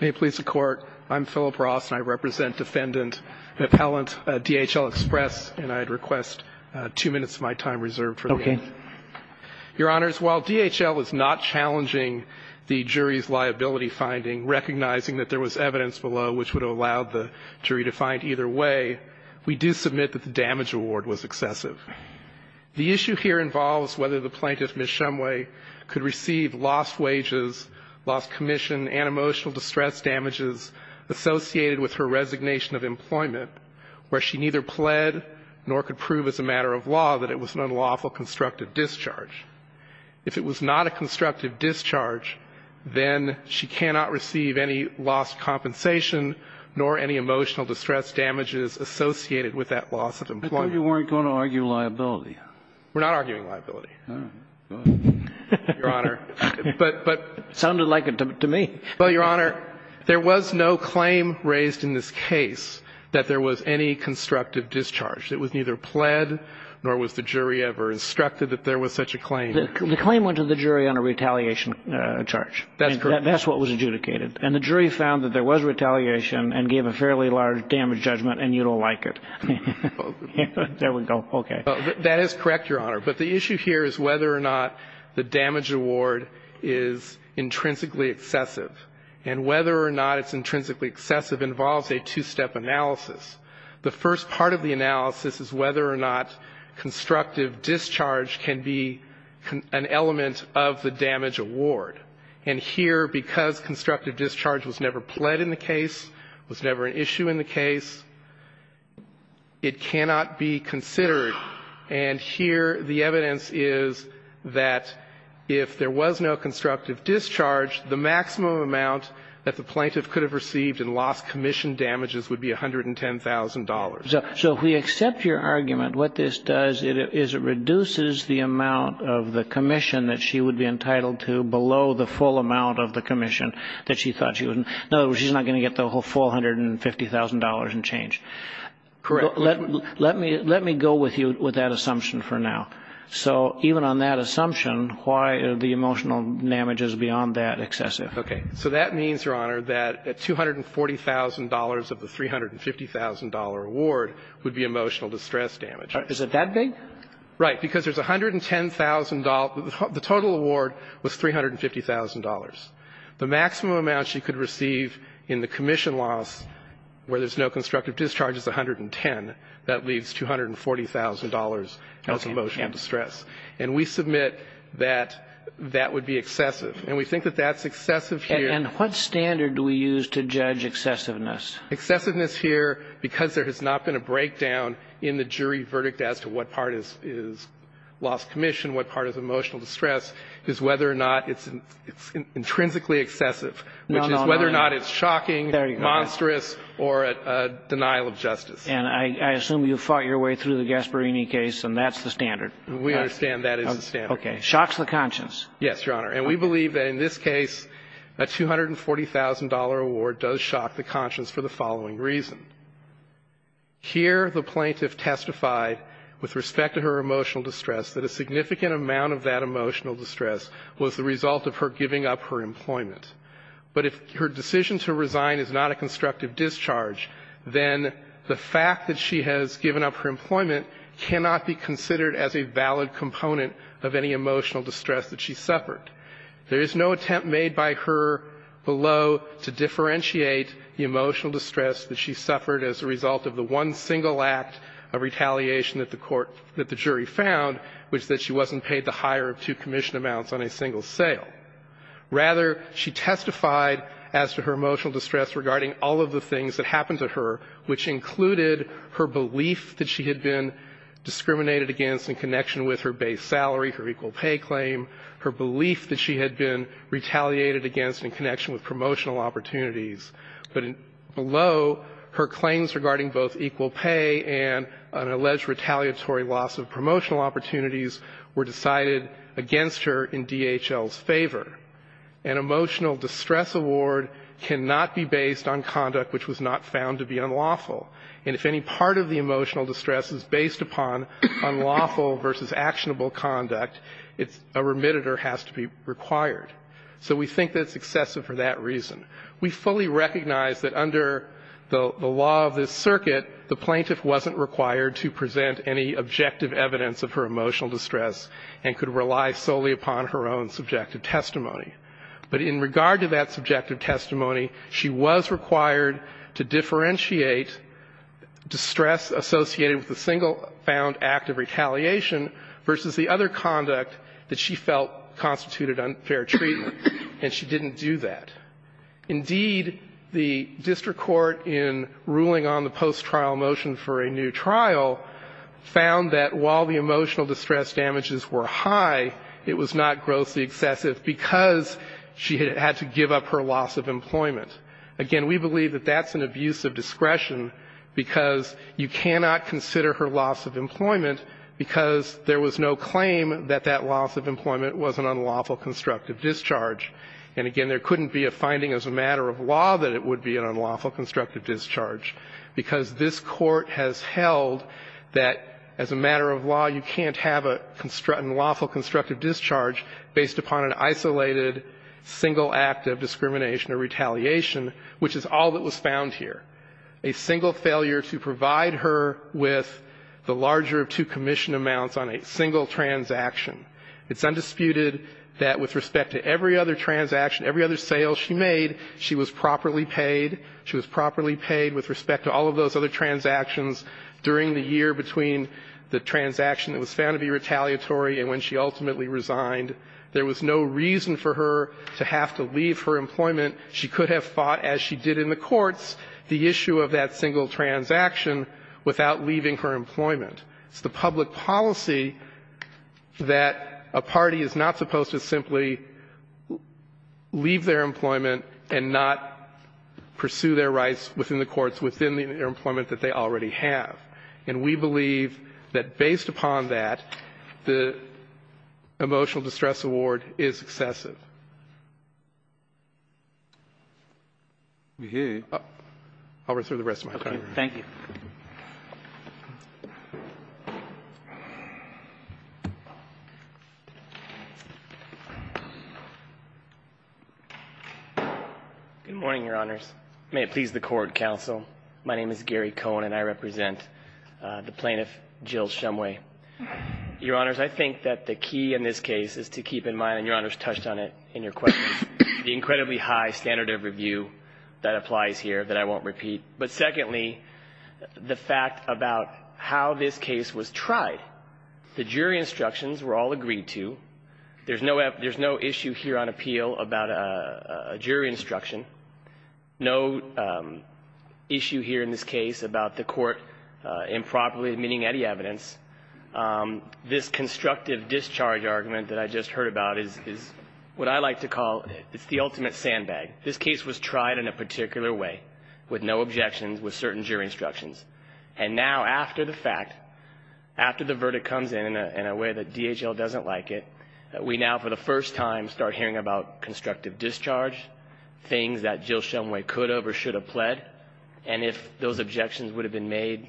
May it please the Court, I'm Philip Ross, and I represent Defendant Appellant DHL Express, and I'd request two minutes of my time reserved for the case. Okay. Your Honors, while DHL is not challenging the jury's liability finding, recognizing that there was evidence below which would have allowed the jury to find either way, we do submit that the damage award was excessive. The issue here involves whether the plaintiff, Ms. Shumway, could receive lost wages, lost commission, and emotional distress damages associated with her resignation of employment where she neither pled nor could prove as a matter of law that it was an unlawful constructive discharge. If it was not a constructive discharge, then she cannot receive any lost compensation nor any emotional distress damages associated with that loss of employment. I thought you weren't going to argue liability. We're not arguing liability, Your Honor. It sounded like it to me. Well, Your Honor, there was no claim raised in this case that there was any constructive discharge. It was neither pled nor was the jury ever instructed that there was such a claim. The claim went to the jury on a retaliation charge. That's correct. And that's what was adjudicated. And the jury found that there was retaliation and gave a fairly large damage judgment, and you don't like it. There we go. Okay. That is correct, Your Honor. But the issue here is whether or not the damage award is intrinsically excessive. And whether or not it's intrinsically excessive involves a two-step analysis. The first part of the analysis is whether or not constructive discharge can be an element of the damage award. And here, because constructive discharge was never pled in the case, was never an element of the damage award, and here the evidence is that if there was no constructive discharge, the maximum amount that the plaintiff could have received in lost commission damages would be $110,000. So if we accept your argument, what this does is it reduces the amount of the commission that she would be entitled to below the full amount of the commission that she thought she would be entitled to. In other words, she's not going to get the whole $450,000 in change. Correct. Let me go with you with that assumption for now. So even on that assumption, why are the emotional damages beyond that excessive? Okay. So that means, Your Honor, that $240,000 of the $350,000 award would be emotional distress damage. Is it that big? Right. Because there's $110,000. The total award was $350,000. The maximum amount she could receive in the commission loss where there's no constructive discharge is $110,000. That leaves $240,000 as emotional distress. Okay. And we submit that that would be excessive. And we think that that's excessive here. And what standard do we use to judge excessiveness? Excessiveness here, because there has not been a breakdown in the jury verdict as to what part is lost commission, what part is emotional distress, is whether or not it's intrinsically excessive, which is whether or not it's shocking, monstrous, or a denial of justice. And I assume you fought your way through the Gasparini case, and that's the standard. We understand that is the standard. Okay. Shocks the conscience. Yes, Your Honor. And we believe that in this case, a $240,000 award does shock the conscience for the following reason. Here, the plaintiff testified with respect to her emotional distress that a significant amount of that emotional distress was the result of her giving up her employment. But if her decision to resign is not a constructive discharge, then the fact that she has given up her employment cannot be considered as a valid component of any emotional distress that she suffered. There is no attempt made by her below to differentiate the emotional distress that she suffered as a result of the one single act of retaliation that the court or that the jury found, which is that she wasn't paid the higher of two commission amounts on a single sale. Rather, she testified as to her emotional distress regarding all of the things that happened to her, which included her belief that she had been discriminated against in connection with her base salary, her equal pay claim, her belief that she had been retaliated against in connection with promotional opportunities, but below, her claims regarding both equal pay and an alleged retaliatory loss of promotional opportunities were decided against her in DHL's favor. An emotional distress award cannot be based on conduct which was not found to be unlawful, and if any part of the emotional distress is based upon unlawful versus actionable conduct, a remitter has to be required. So we think that's excessive for that reason. We fully recognize that under the law of this circuit, the plaintiff wasn't required to present any objective evidence of her emotional distress and could rely solely upon her own subjective testimony. But in regard to that subjective testimony, she was required to differentiate distress associated with the single found act of retaliation versus the other conduct that she felt constituted unfair treatment, and she didn't do that. Indeed, the district court in ruling on the post-trial motion for a new trial found that while the emotional distress damages were high, it was not grossly excessive because she had to give up her loss of employment. Again, we believe that that's an abuse of discretion because you cannot consider her loss of employment because there was no claim that that loss of employment was an unlawful constructive discharge. And again, there couldn't be a finding as a matter of law that it would be an unlawful constructive discharge because this Court has held that as a matter of law, you can't have an unlawful constructive discharge based upon an isolated single act of discrimination or retaliation, which is all that was found here, a single failure to provide her with the larger of two commission amounts on a single transaction. It's undisputed that with respect to every other transaction, every other sale she made, she was properly paid, she was properly paid with respect to all of those other transactions during the year between the transaction that was found to be retaliatory and when she ultimately resigned. There was no reason for her to have to leave her employment. She could have fought, as she did in the courts, the issue of that single transaction without leaving her employment. It's the public policy that a party is not supposed to simply leave their employment and not pursue their rights within the courts within the employment that they already have, and we believe that based upon that, the emotional distress award is excessive. We hear you. I'll reserve the rest of my time. Thank you. Good morning, Your Honors. May it please the Court, Counsel. My name is Gary Cohen, and I represent the plaintiff, Jill Shumway. Your Honors, I think that the key in this case is to keep in mind, and Your Honors touched on it in your questions, the incredibly high standard of review that applies here that I won't repeat, but secondly, the fact about how this case was tried. The jury instructions were all agreed to. There's no issue here on appeal about a jury instruction, no issue here in this case about the court improperly admitting any evidence. This constructive discharge argument that I just heard about is what I like to call the ultimate sandbag. This case was tried in a particular way with no objections, with certain jury instructions, and now after the fact, after the verdict comes in in a way that DHL doesn't like it, we now for the first time start hearing about constructive discharge, things that Jill Shumway could have or should have pled, and if those objections would have been made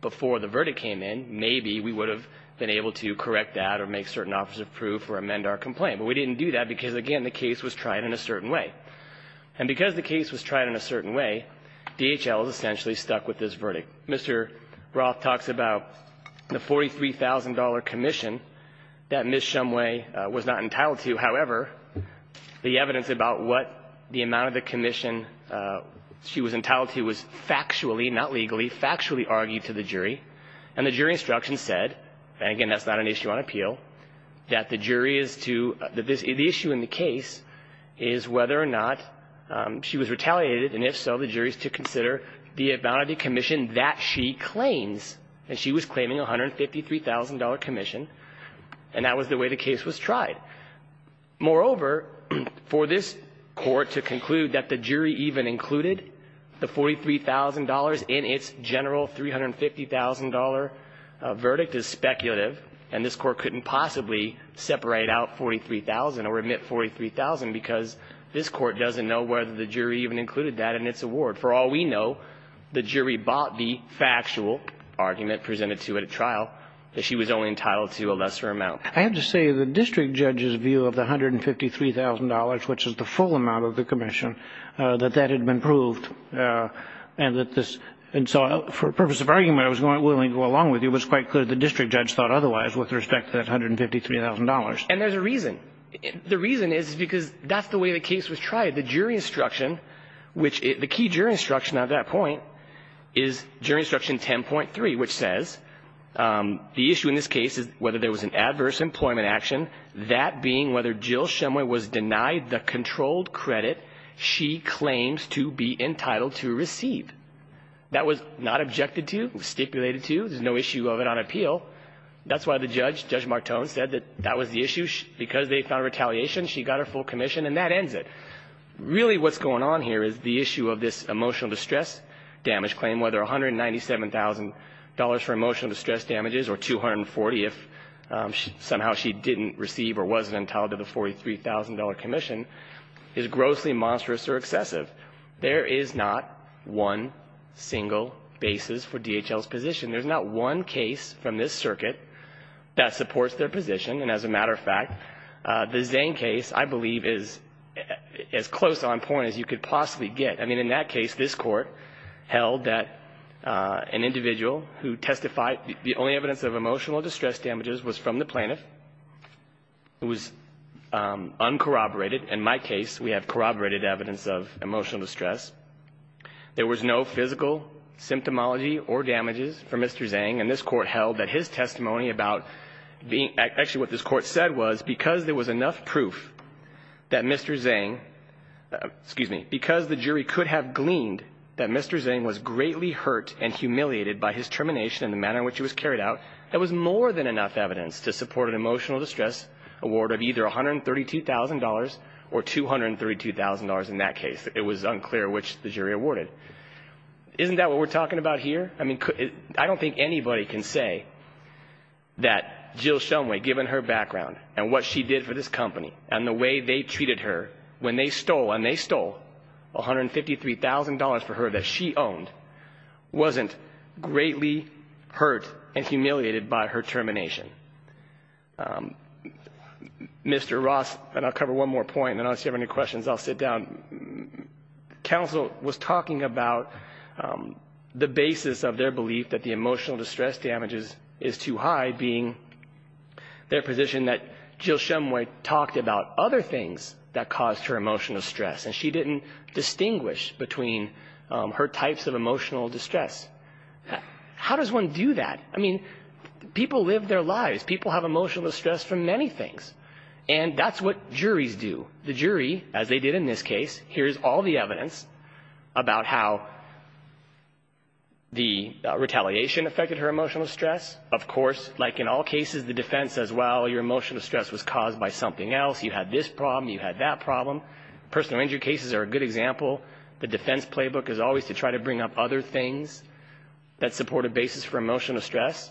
before the verdict came in, maybe we would have been able to correct that or make certain offers of proof or amend our complaint. But we didn't do that because, again, the case was tried in a certain way. And because the case was tried in a certain way, DHL is essentially stuck with this verdict. Mr. Roth talks about the $43,000 commission that Ms. Shumway was not entitled to. However, the evidence about what the amount of the commission she was entitled to was factually, not legally, factually argued to the jury, and the jury instructions said, and again, that's not an issue on appeal, that the jury is to the issue in the case is whether or not she was retaliated, and if so, the jury is to consider the amount of the commission that she claims. And she was claiming a $153,000 commission, and that was the way the case was tried. Moreover, for this Court to conclude that the jury even included the $43,000 in its general $350,000 verdict is speculative, and this Court couldn't possibly separate out $43,000 or omit $43,000 because this Court doesn't know whether the jury even included that in its award. For all we know, the jury bought the factual argument presented to it at trial that she was only entitled to a lesser amount. I have to say the district judge's view of the $153,000, which is the full amount of the commission, that that had been proved, and that this – and so for a purpose of argument, I was willing to go along with you. It was quite clear the district judge thought otherwise with respect to that $153,000. And there's a reason. The reason is because that's the way the case was tried. The jury instruction, which – the key jury instruction at that point is jury instruction 10.3, which says the issue in this case is whether there was an adverse employment action, that being whether Jill Shumway was denied the controlled credit she claims to be entitled to receive. That was not objected to, stipulated to. There's no issue of it on appeal. That's why the judge, Judge Martone, said that that was the issue. Because they found retaliation, she got her full commission, and that ends it. Really what's going on here is the issue of this emotional distress damage claim, whether $197,000 for emotional distress damages or $240,000 if somehow she didn't receive or wasn't entitled to the $43,000 commission, is grossly monstrous or excessive. There is not one single basis for DHL's position. There's not one case from this circuit that supports their position. And as a matter of fact, the Zane case, I believe, is as close on point as you could possibly get. I mean, in that case, this Court held that an individual who testified, the only evidence of emotional distress damages was from the plaintiff. It was uncorroborated. In my case, we have corroborated evidence of emotional distress. There was no physical symptomology or damages for Mr. Zang. And this Court held that his testimony about being actually what this Court said was because there was enough proof that Mr. Zang, excuse me, because the jury could have gleaned that Mr. Zang was greatly hurt and humiliated by his termination and the manner in which he was carried out, there was more than enough evidence to support an emotional distress award of either $132,000 or $232,000 in that case. It was unclear which the jury awarded. Isn't that what we're talking about here? I mean, I don't think anybody can say that Jill Shumway, given her background and what she did for this company and the way they treated her when they stole, and they stole $153,000 for her that she owned, wasn't greatly hurt and humiliated by her termination. Mr. Ross, and I'll cover one more point, and then I'll see if you have any questions, I'll sit down. Counsel was talking about the basis of their belief that the emotional distress damages is too high, being their position that Jill Shumway talked about other things that caused her emotional stress, and she didn't distinguish between her types of emotional distress. How does one do that? I mean, people live their lives, people have emotional distress from many things, and that's what juries do. The jury, as they did in this case, here's all the evidence about how the retaliation affected her emotional stress. Of course, like in all cases, the defense says, well, your emotional stress was caused by something else, you had this problem, you had that problem. Personal injury cases are a good example. The defense playbook is always to try to bring up other things that support a basis for emotional stress.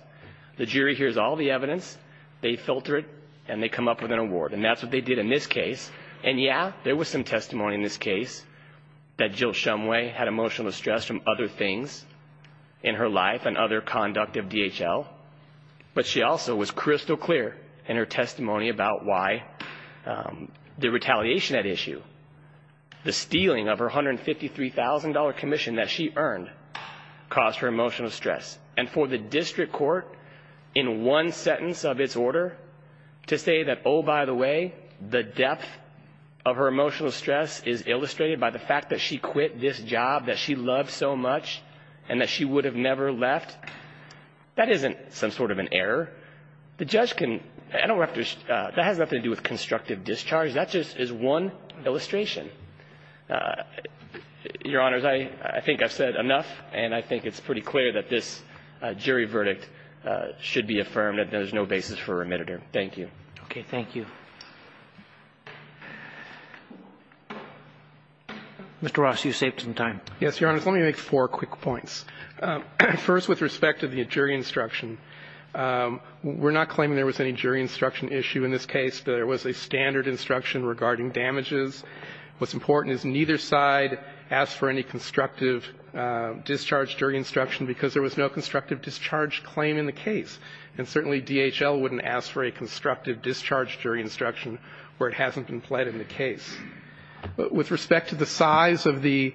The jury hears all the evidence, they filter it, and they come up with an award, and that's what they did in this case. And yeah, there was some testimony in this case that Jill Shumway had emotional distress from other things in her life and other conduct of DHL, but she also was crystal clear in her testimony about why the retaliation at issue, the stealing of her $153,000 commission that she earned caused her emotional stress. And for the district court, in one sentence of its order, to say that, oh, by the way, the depth of her emotional stress is illustrated by the fact that she quit this job that she loved so much and that she would have never left, that isn't some sort of an error. The judge can, I don't have to, that has nothing to do with constructive discharge, that just is one illustration. Your Honor, I think I've said enough, and I think it's pretty clear that this jury verdict should be affirmed, that there's no basis for remitter. Thank you. Okay, thank you. Mr. Ross, you saved some time. Yes, Your Honor, let me make four quick points. First, with respect to the jury instruction, we're not claiming there was any jury instruction issue in this case, but there was a standard instruction regarding damages. What's important is neither side asked for any constructive discharge jury instruction, because there was no constructive discharge claim in the case. And certainly DHL wouldn't ask for a constructive discharge jury instruction where it hasn't been pled in the case. With respect to the size of the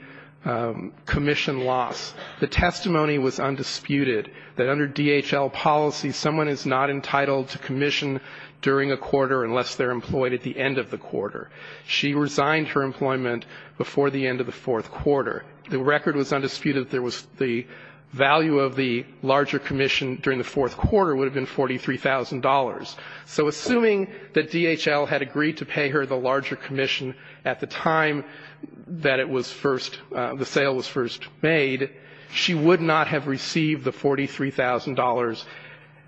commission loss, the testimony was undisputed that under DHL policy, someone is not entitled to commission during a quarter unless they're employed at the end of the quarter. She resigned her employment before the end of the fourth quarter. The record was undisputed that the value of the larger commission during the fourth quarter would have been $43,000. So assuming that DHL had agreed to pay her the larger commission at the time that it was first, the sale was first made, she would not have received the $43,000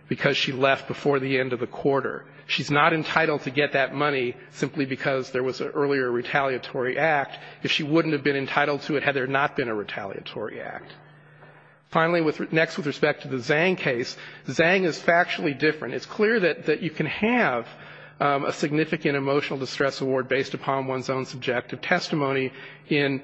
because she left before the end of the quarter. She's not entitled to get that money simply because there was an earlier retaliatory act if she wouldn't have been entitled to it had there not been a retaliatory act. Finally, next with respect to the Zhang case, Zhang is factually different. It's clear that you can have a significant emotional distress award based upon one's own subjective testimony in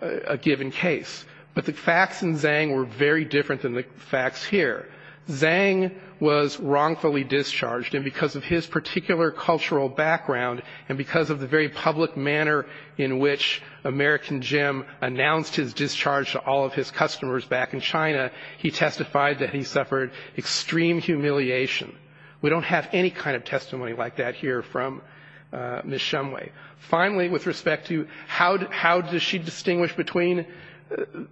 a given case. But the facts in Zhang were very different than the facts here. Zhang was wrongfully discharged, and because of his particular cultural background, and because of the very public manner in which American Jim announced his discharge to all of his customers, back in China, he testified that he suffered extreme humiliation. We don't have any kind of testimony like that here from Ms. Shumway. Finally, with respect to how does she distinguish between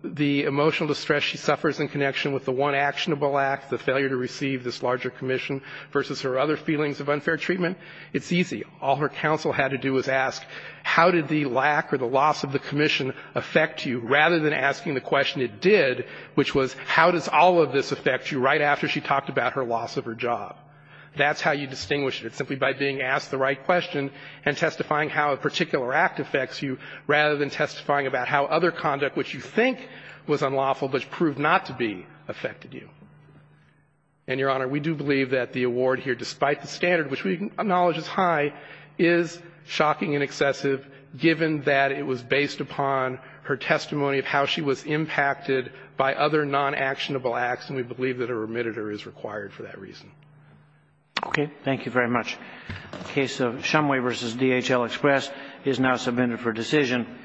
the emotional distress she suffers in connection with the one actionable act, the failure to receive this larger commission versus her other feelings of unfair treatment, it's easy. All her counsel had to do was ask, how did the lack or the loss of the commission affect you? Rather than asking the question it did, which was, how does all of this affect you, right after she talked about her loss of her job. That's how you distinguish it, simply by being asked the right question and testifying how a particular act affects you, rather than testifying about how other conduct, which you think was unlawful but proved not to be, affected you. And, Your Honor, we do believe that the award here, despite the standard which we acknowledge is high, is shocking and excessive, given that it was based upon her testimony of how she was impacted by other non-actionable acts, and we believe that a remittitor is required for that reason. Okay. Thank you very much. The case of Shumway v. DHL Express is now submitted for decision.